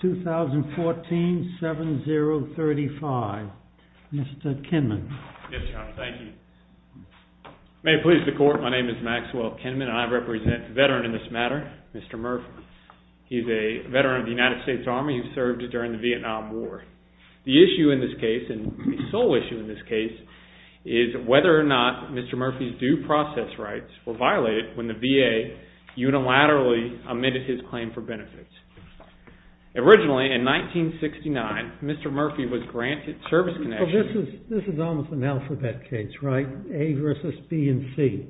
2014 7035. Mr. Kinman. May it please the court, my name is Maxwell Kinman and I represent the veteran in this matter, Mr. Murphy. He's a veteran of the United States Army who served during the Vietnam War. The issue in this case, and the sole issue in this case, is whether or not Mr. Murphy's due process rights were violated when the VA unilaterally omitted his claim for benefits. Originally, in 1969, Mr. Murphy was granted service connection. This is almost an alphabet case, right? A versus B and C.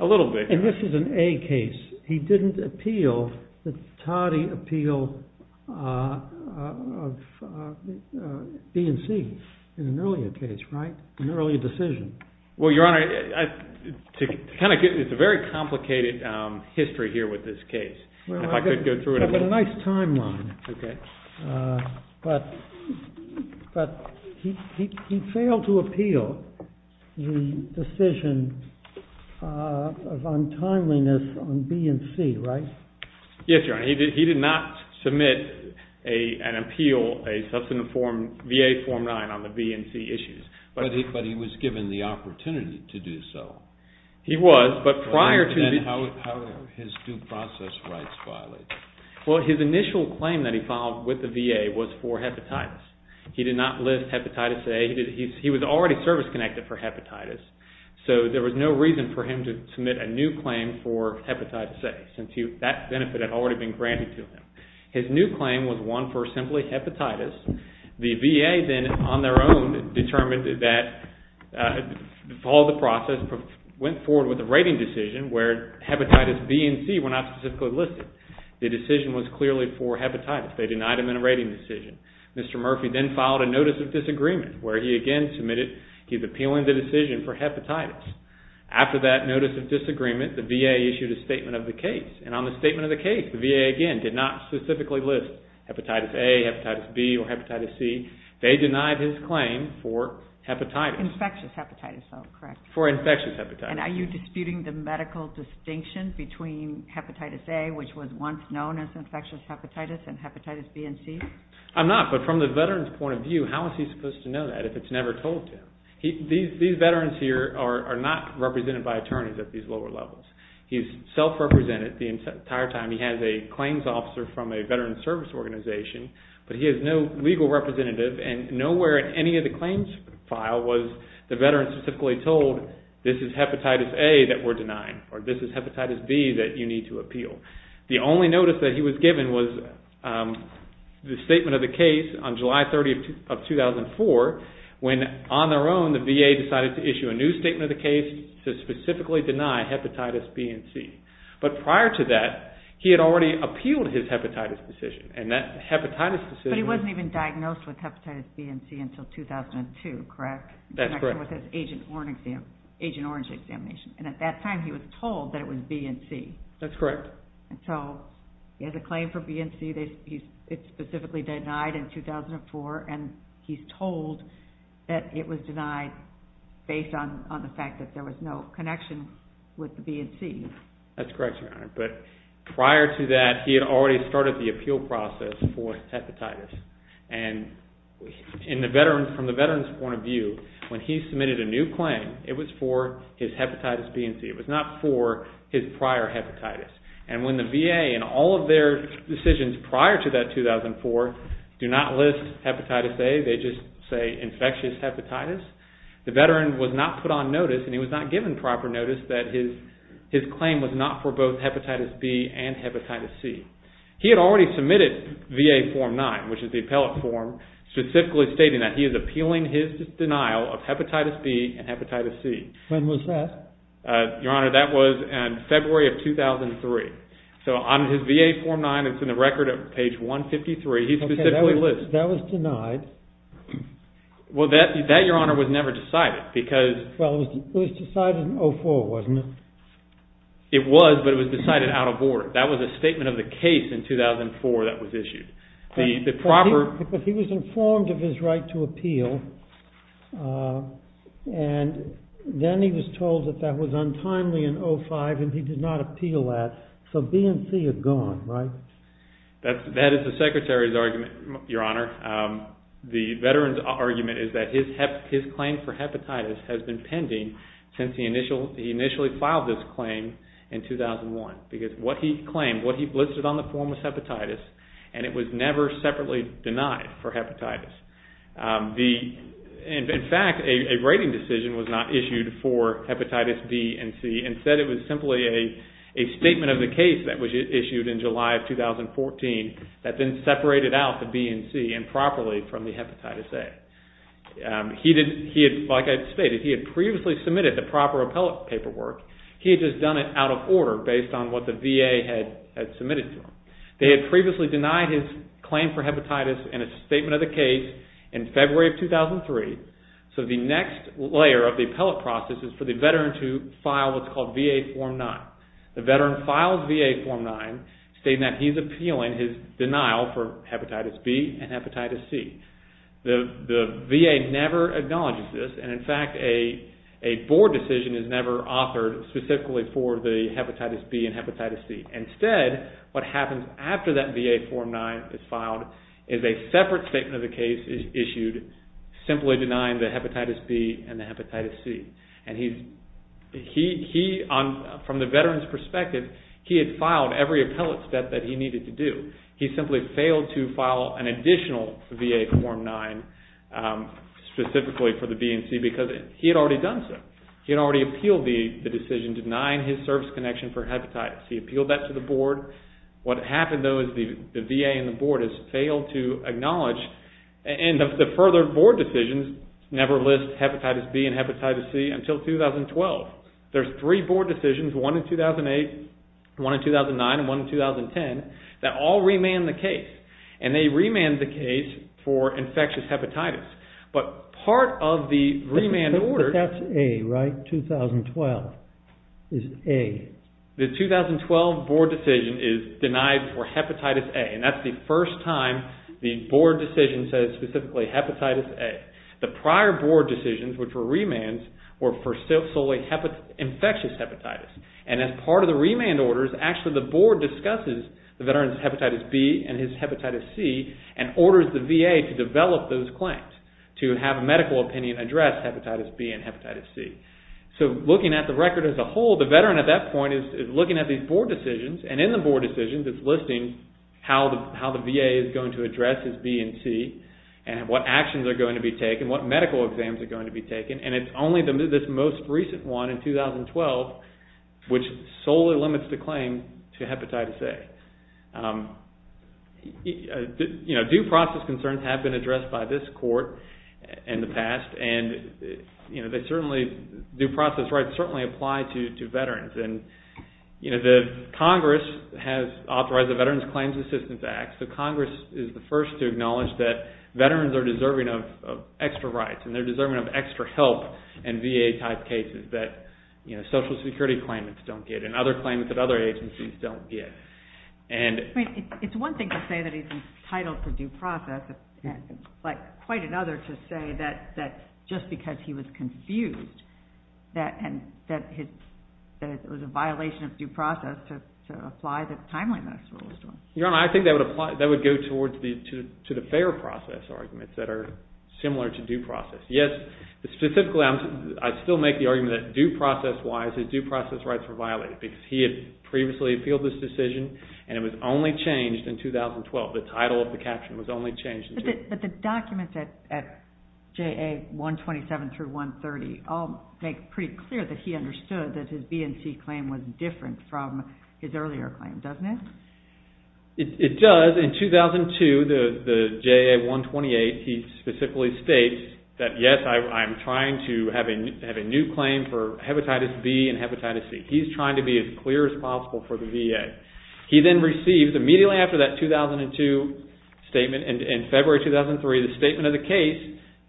A little bit. And this is an A case. He didn't appeal the Toddy appeal of B and C in an earlier case, right? An earlier decision. Well, Your Honor, it's a very complicated history here with this case. Well, I've got a nice timeline. Okay. But he failed to appeal the decision of untimeliness on B and C, right? Yes, Your Honor. He did not submit an appeal, a substantive form, VA Form 9 on the B and C issues. But he was given the opportunity to do so. He was, but prior to the How were his due process rights violated? Well, his initial claim that he filed with the VA was for hepatitis. He did not list hepatitis A. He was already service connected for hepatitis. So there was no reason for him to submit a new claim for hepatitis A, since that benefit had already been granted to him. His new claim was one for simply hepatitis. The VA then on their own determined that, followed the process, went forward with a rating decision where hepatitis B and C were not specifically listed. The decision was clearly for hepatitis. They denied him in a rating decision. Mr. Murphy then filed a Notice of Disagreement where he again submitted he's appealing the decision for hepatitis. After that Notice of Disagreement, the VA issued a statement of the case. And on the statement of the case, the VA again did not specifically list hepatitis A, hepatitis B, or hepatitis C. They denied his claim for hepatitis. Infectious hepatitis, though, correct? For infectious hepatitis. And are you disputing the medical distinction between hepatitis A, which was once known as infectious hepatitis, and hepatitis B and C? I'm not, but from the veteran's point of view, how is he supposed to know that if it's never told to him? These veterans here are not represented by attorneys at these lower levels. He's self-represented the entire time. He has a claims officer from a veteran's service organization, but he has no legal representative. And nowhere in any of the claims file was the veteran specifically told this is hepatitis A that we're denying, or this is hepatitis B that you need to appeal. The only notice that he was given was the statement of the case on July 30th of 2004, when on their own, the VA decided to issue a new statement of the case to specifically deny hepatitis B and C. But prior to that, he had already appealed his hepatitis decision, and that hepatitis decision was... But he wasn't even diagnosed with hepatitis B and C until 2002, correct? That's correct. In connection with his Agent Orange examination. And at that time, he was told that it was B and C. That's correct. So he has a claim for B and C, it's specifically denied in 2004, and he's told that it was denied based on the fact that there was no connection with the B and C. That's correct, Your Honor. But prior to that, he had already started the appeal process for hepatitis. And from the veteran's point of view, when he submitted a new claim, it was for his hepatitis B and C. It was not for his prior hepatitis. And when the VA, in all of their decisions prior to that 2004, do not list hepatitis A, they just say infectious hepatitis, the veteran was not put on notice, and he was not given proper notice that his claim was not for both hepatitis B and hepatitis C. He had already submitted VA Form 9, which is the appellate form, specifically stating that he is appealing his denial of hepatitis B and hepatitis C. When was that? Your Honor, that was in February of 2003. So on his VA Form 9, it's in the record at page 153, he specifically lists… Okay, that was denied. Well, that, Your Honor, was never decided because… Well, it was decided in 2004, wasn't it? It was, but it was decided out of order. That was a statement of the case in 2004 that was issued. The proper… But that was untimely in 2005, and he did not appeal that. So B and C are gone, right? That is the Secretary's argument, Your Honor. The veteran's argument is that his claim for hepatitis has been pending since he initially filed this claim in 2001, because what he claimed, what he listed on the form was hepatitis, and it was never separately denied for hepatitis. In fact, a rating decision was not issued for hepatitis B and C. Instead, it was simply a statement of the case that was issued in July of 2014 that then separated out the B and C improperly from the hepatitis A. Like I stated, he had previously submitted the proper appellate paperwork. He had just done it out of order based on what the VA had submitted to him. They had previously denied his claim for hepatitis in a statement of the case in February of 2003. So the next layer of the appellate process is for the veteran to file what's called VA Form 9. The veteran files VA Form 9 stating that he's appealing his denial for hepatitis B and hepatitis C. The VA never acknowledges this, and in fact, a board decision is never authored specifically for the hepatitis B and hepatitis C. Instead, what happens after that VA Form 9 is filed is a separate statement of the case is issued simply denying the hepatitis B and the hepatitis C. And he, from the veteran's perspective, he had filed every appellate step that he needed to do. He simply failed to file an additional VA Form 9 specifically for the B and C because he had already done so. He had already appealed the decision denying his service connection for hepatitis. He appealed that to the board. What happened, though, is the VA and the board has failed to acknowledge and the further board decisions never list hepatitis B and hepatitis C until 2012. There's three board decisions, one in 2008, one in 2009, and one in 2010 that all remand the case, and they remand the case for infectious hepatitis. But part of the remand order... But that's A, right? 2012 is A. The 2012 board decision is denied for hepatitis A, and that's the first time the board decision says specifically hepatitis A. The prior board decisions, which were remands, were for solely infectious hepatitis. And as part of the remand orders, actually the board discusses the veteran's hepatitis B and his hepatitis C and orders the VA to develop those claims to have a medical opinion address hepatitis B and hepatitis C. So looking at the record as a whole, the veteran at that point is looking at these board decisions, and in the board decisions it's listing how the VA is going to address his B and C and what actions are going to be taken, what medical exams are going to be taken, and it's only this most recent one in 2012 which solely limits the claim to hepatitis A. Due process concerns have been addressed by this court in the past, and due process rights certainly apply to veterans. Congress has authorized the Veterans Claims Assistance Act, so Congress is the first to acknowledge that veterans are deserving of extra rights and they're deserving of extra help in VA-type cases that Social Security claimants don't get and other claimants at other agencies don't get. It's one thing to say that he's entitled to due process, but quite another to say that just because he was confused that it was a violation of due process to apply the timeline that this court was doing. Your Honor, I think that would go towards the fair process arguments that are similar to due process. Yes, specifically I'd still make the argument that due process-wise, his due process rights were violated because he had previously appealed this decision and it was only changed in 2012. The title of the caption was only changed in 2012. But the documents at JA-127 through 130 all make pretty clear that he understood that his BNC claim was different from his earlier claim, doesn't it? It does. In 2002, the JA-128, he specifically states that, yes, I'm trying to have a new claim for hepatitis B and hepatitis C. He's trying to be as clear as possible for the VA. He then receives immediately after that 2002 statement in February 2003, the statement of the case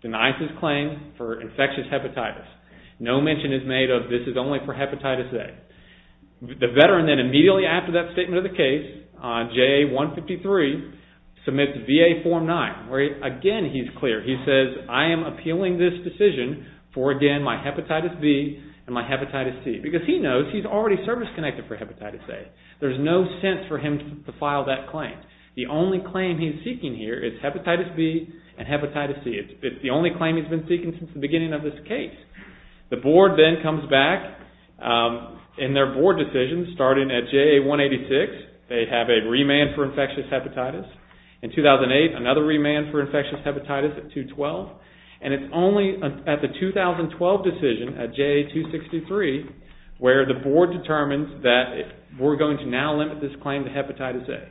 denies his claim for infectious hepatitis. No mention is made of this is only for hepatitis A. The veteran then immediately after that statement of the case, JA-153, submits VA Form 9, where again he's clear. He says, I am appealing this decision for again my hepatitis B and my hepatitis C. Because he knows he's already service-connected for hepatitis A. There's no sense for him to file that claim. The only claim he's seeking here is hepatitis B and hepatitis C. It's the only claim he's been seeking since the beginning of this case. The board then comes back in their board decisions starting at JA-186. They have a remand for infectious hepatitis. In 2008, another remand for infectious hepatitis at JA-212. And it's only at the 2012 decision at JA-263, where the board determines that we're going to now limit this claim to hepatitis A.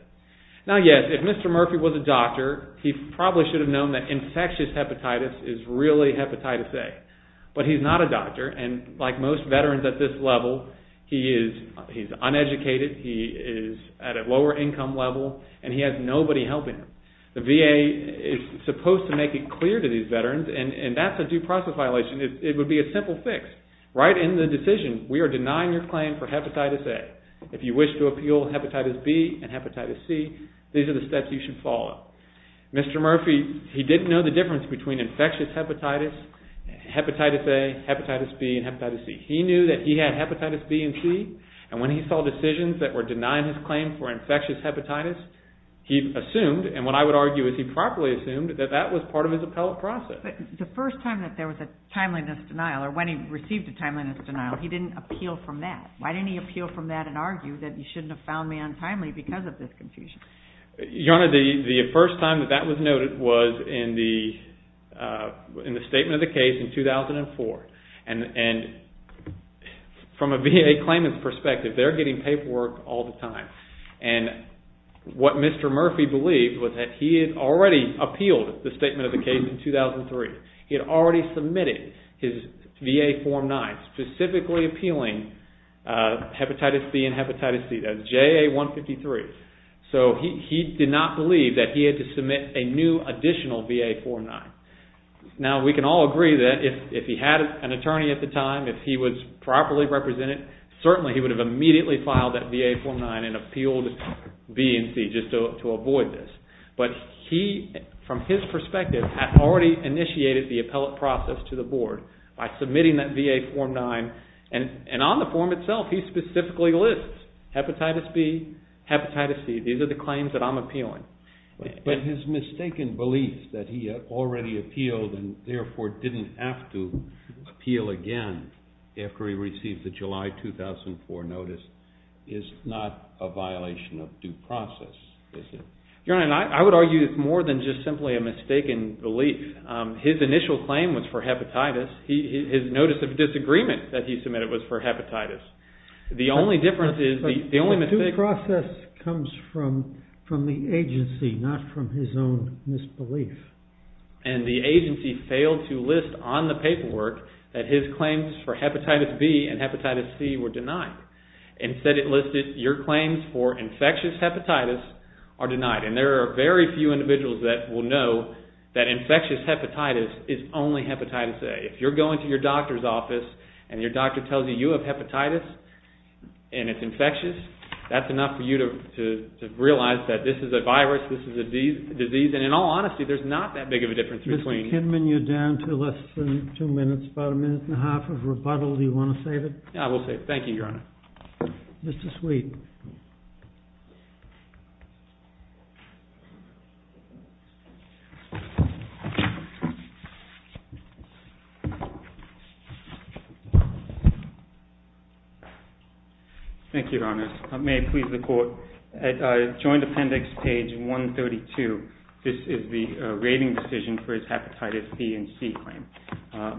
Now, yes, if Mr. Murphy was a doctor, he probably should have known that infectious hepatitis is really hepatitis A. But he's not a doctor, and like most veterans at this level, he is uneducated, he is at a lower income level, and he has nobody helping him. The VA is supposed to make it clear to these veterans, and that's a due process violation. It would be a simple fix. Right in the decision, we are denying your claim for hepatitis A. If you wish to appeal hepatitis B and hepatitis C, these are the steps you should follow. Mr. Murphy, he didn't know the difference between infectious hepatitis, hepatitis A, hepatitis B, and hepatitis C. He knew that he had hepatitis B and C, and when he saw decisions that were denying his claim for infectious hepatitis, he assumed, and what I would argue is he properly assumed, that that was part of his appellate process. But the first time that there was a timeliness denial, or when he received a timeliness denial, he didn't appeal from that. Why didn't he appeal from that and argue that you shouldn't have found me untimely because of this confusion? Your Honor, the first time that that was noted was in the statement of the case in 2004. And from a VA claimant's perspective, they're getting paperwork all the time. And what Mr. Murphy believed was that he had already appealed the statement of the case in 2003. He had already submitted his VA Form 9, specifically appealing hepatitis B and hepatitis C. That was JA 153. So he did not believe that he had to submit a new additional VA Form 9. Now we can all agree that if he had an attorney at the time, if he was properly represented, certainly he would have immediately filed that VA Form 9 and appealed B and C just to avoid this. But he, from his perspective, had already initiated the appellate process to the board by submitting that VA Form 9. And on the form itself, he specifically lists hepatitis B, hepatitis C. These are the claims that I'm appealing. But his mistaken belief that he had already appealed and therefore didn't have to appeal again after he received the July 2004 notice is not a violation of due process, is it? Your Honor, I would argue it's more than just simply a mistaken belief. His initial claim was for hepatitis. His notice of disagreement that he submitted was for hepatitis. The only difference is the only mistake... But due process comes from the agency, not from his own misbelief. And the agency failed to list on the paperwork that his claims for hepatitis B and hepatitis C were denied. Instead it listed your claims for infectious hepatitis are denied. And there are very few individuals that will know that infectious hepatitis is only hepatitis A. If you're going to your doctor's office and your doctor tells you you have hepatitis and it's infectious, that's enough for you to realize that this is a virus, this is a disease. And in all honesty, there's not that big of a difference between... Mr. Kidman, you're down to less than two minutes, about a minute and a half of rebuttal. Do you want to save it? Yeah, I will save it. Thank you, Your Honor. Mr. Sweet. Thank you, Your Honor. May I please report, at Joint Appendix page 132, this is the rating decision for his hepatitis B and C claim.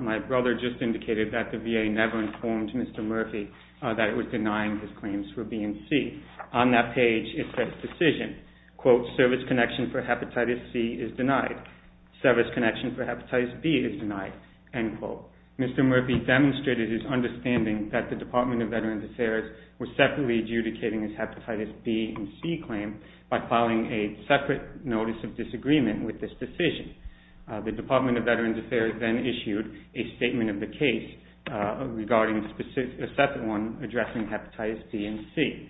My brother just indicated that the VA never informed Mr. Murphy that it was denying his claims for B and C. On that page, it says, decision, quote, service connection for hepatitis C is denied. Service connection for hepatitis B is denied, end quote. Mr. Murphy demonstrated his understanding that the Department of Veterans Affairs was separately adjudicating his hepatitis B and C claim by filing a separate notice of disagreement with this decision. The Department of Veterans Affairs then issued a statement of the case regarding a separate one addressing hepatitis B and C.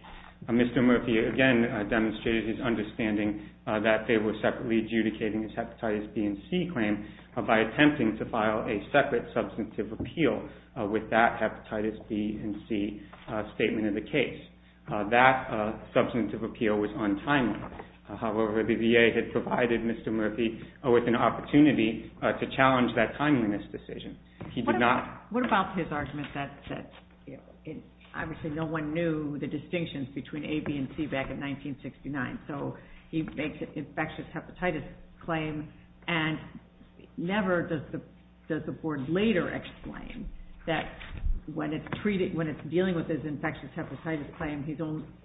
Mr. Murphy again demonstrated his understanding that they were separately adjudicating his hepatitis B and C claim by attempting to file a separate substantive appeal with that hepatitis B and C statement of the case. That substantive appeal was untimely. However, the VA had provided Mr. Murphy with an opportunity to challenge that timeliness decision. What about his argument that, obviously, no one knew the distinctions between A, B, and C back in 1969, so he makes an infectious hepatitis claim, and never does the Board later explain that when it's dealing with his infectious hepatitis claim,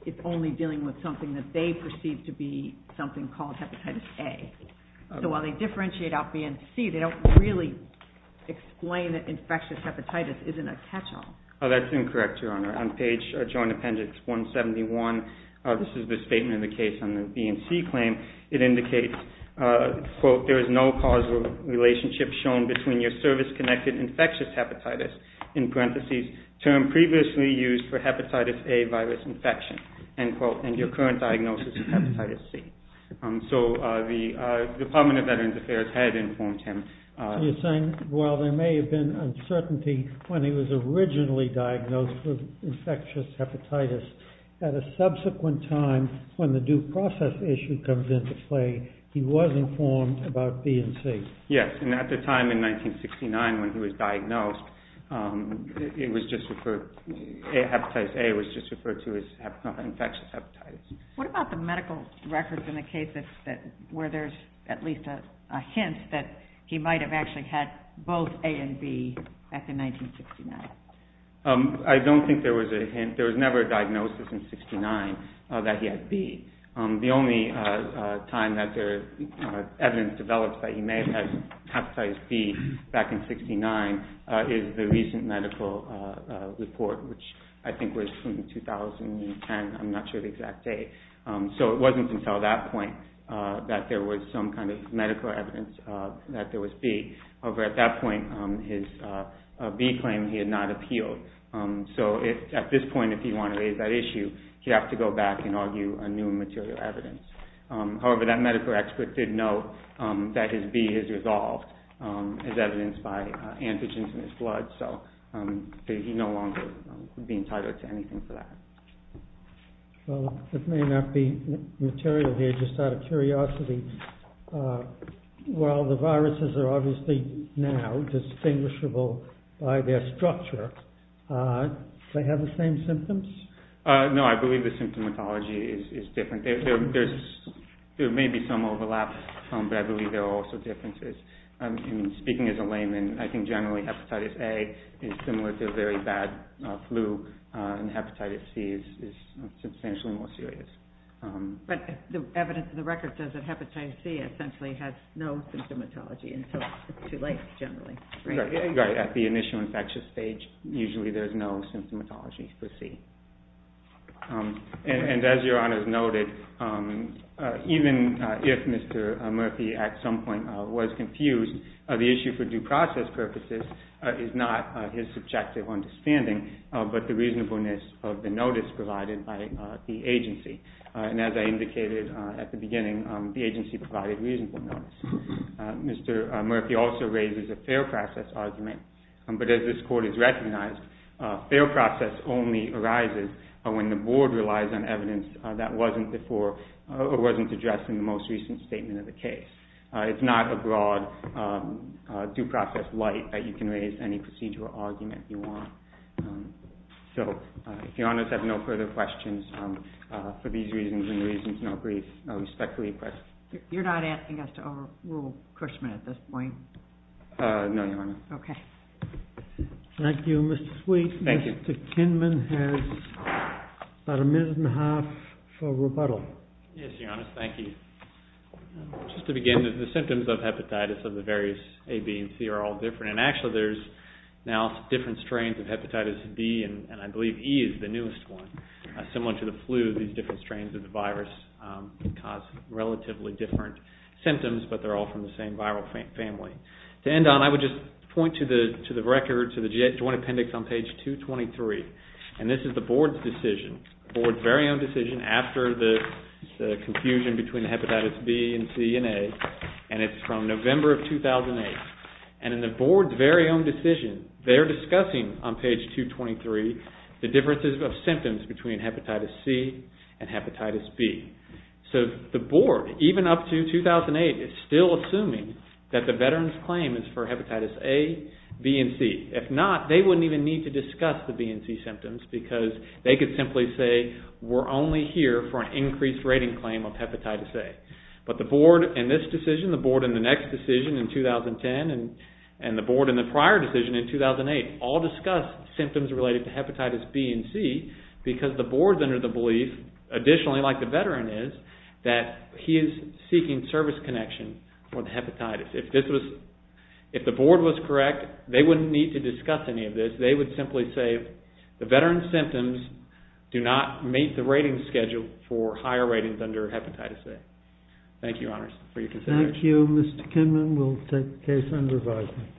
it's only dealing with something that they perceive to be something called hepatitis A. So while they differentiate out B and C, they don't really explain that infectious hepatitis isn't a catch-all. Oh, that's incorrect, Your Honor. On page, joint appendix 171, this is the statement of the case on the B and C claim. It indicates, quote, there is no causal relationship shown between your service-connected infectious hepatitis, in parentheses, term previously used for hepatitis A virus infection, end quote, and your current diagnosis of hepatitis C. So the Department of Veterans Affairs had informed him. You're saying, well, there may have been uncertainty when he was originally diagnosed with infectious hepatitis. At a subsequent time, when the due process issue comes into play, he was informed about B and C. Yes, and at the time in 1969 when he was diagnosed, it was just referred, hepatitis A was just referred to as infectious hepatitis. What about the medical records in the case where there's at least a hint that he might have actually had both A and B back in 1969? I don't think there was a hint. There was never a diagnosis in 1969 that he had B. The only time that there is evidence developed that he may have had hepatitis B back in 1969 is the recent medical report, which I think was from 2010. I'm not sure of the exact date. So it wasn't until that point that there was some kind of medical evidence that there was B. However, at that point, his B claim, he had not appealed. So at this point, if you want to raise that issue, you have to go back and argue a new material evidence. However, that medical expert did note that his B is resolved as evidenced by antigens in his blood. So he no longer would be entitled to anything for that. Well, it may not be material here, just out of curiosity. While the viruses are obviously now distinguishable by their structure, do they have the same symptoms? No, I believe the symptomatology is different. There may be some overlap, but I believe there are also differences. Speaking as a layman, I think generally hepatitis A is similar to a very bad flu, and hepatitis C is substantially more serious. But the evidence in the record says that hepatitis C essentially has no symptomatology, and so it's too late, generally. Right, at the initial infectious stage, usually there's no symptomatology for C. And as Your Honors noted, even if Mr. Murphy at some point was confused, the issue for due process purposes is not his subjective understanding, but the reasonableness of the notice provided by the agency. And as I indicated at the beginning, the agency provided reasonable notice. Mr. Murphy also raises a fair process argument, but as this Court has recognized, fair process only arises when the Board relies on evidence that wasn't before or wasn't addressed in the most recent statement of the case. It's not a broad due process light that you can raise any procedural argument you want. So, if Your Honors have no further questions, for these reasons and reasons not brief, I respectfully request... You're not asking us to overrule Cushman at this point? No, Your Honor. Okay. Thank you, Mr. Sweet. Thank you. Mr. Kinman has about a minute and a half for rebuttal. Yes, Your Honors, thank you. Just to begin, the symptoms of hepatitis of the various A, B, and C are all different, and actually there's now different strains of hepatitis B, and I believe E is the newest one. Similar to the flu, these different strains of the virus cause relatively different symptoms, but they're all from the same viral family. To end on, I would just point to the record, to the Joint Appendix on page 223, and this is the Board's decision, the Board's very own decision after the confusion between hepatitis B and C and A, and it's from November of 2008, and in the Board's very own decision, they're discussing on page 223 the differences of symptoms between hepatitis C and hepatitis B. So the Board, even up to 2008, is still assuming that the veteran's claim is for hepatitis A, B, and C. If not, they wouldn't even need to discuss the B and C symptoms because they could simply say, we're only here for an increased rating claim of hepatitis A. But the Board in this decision, the Board in the next decision in 2010, and the Board in the prior decision in 2008, all discussed symptoms related to hepatitis B and C because the Board's under the belief, additionally, like the veteran is, that he is seeking service connection for the hepatitis. If the Board was correct, they wouldn't need to discuss any of this. They would simply say, the veteran's symptoms do not meet the rating schedule for higher ratings under hepatitis A. Thank you, Your Honors, for your consideration. Thank you. Mr. Kinman, we'll take the case under review.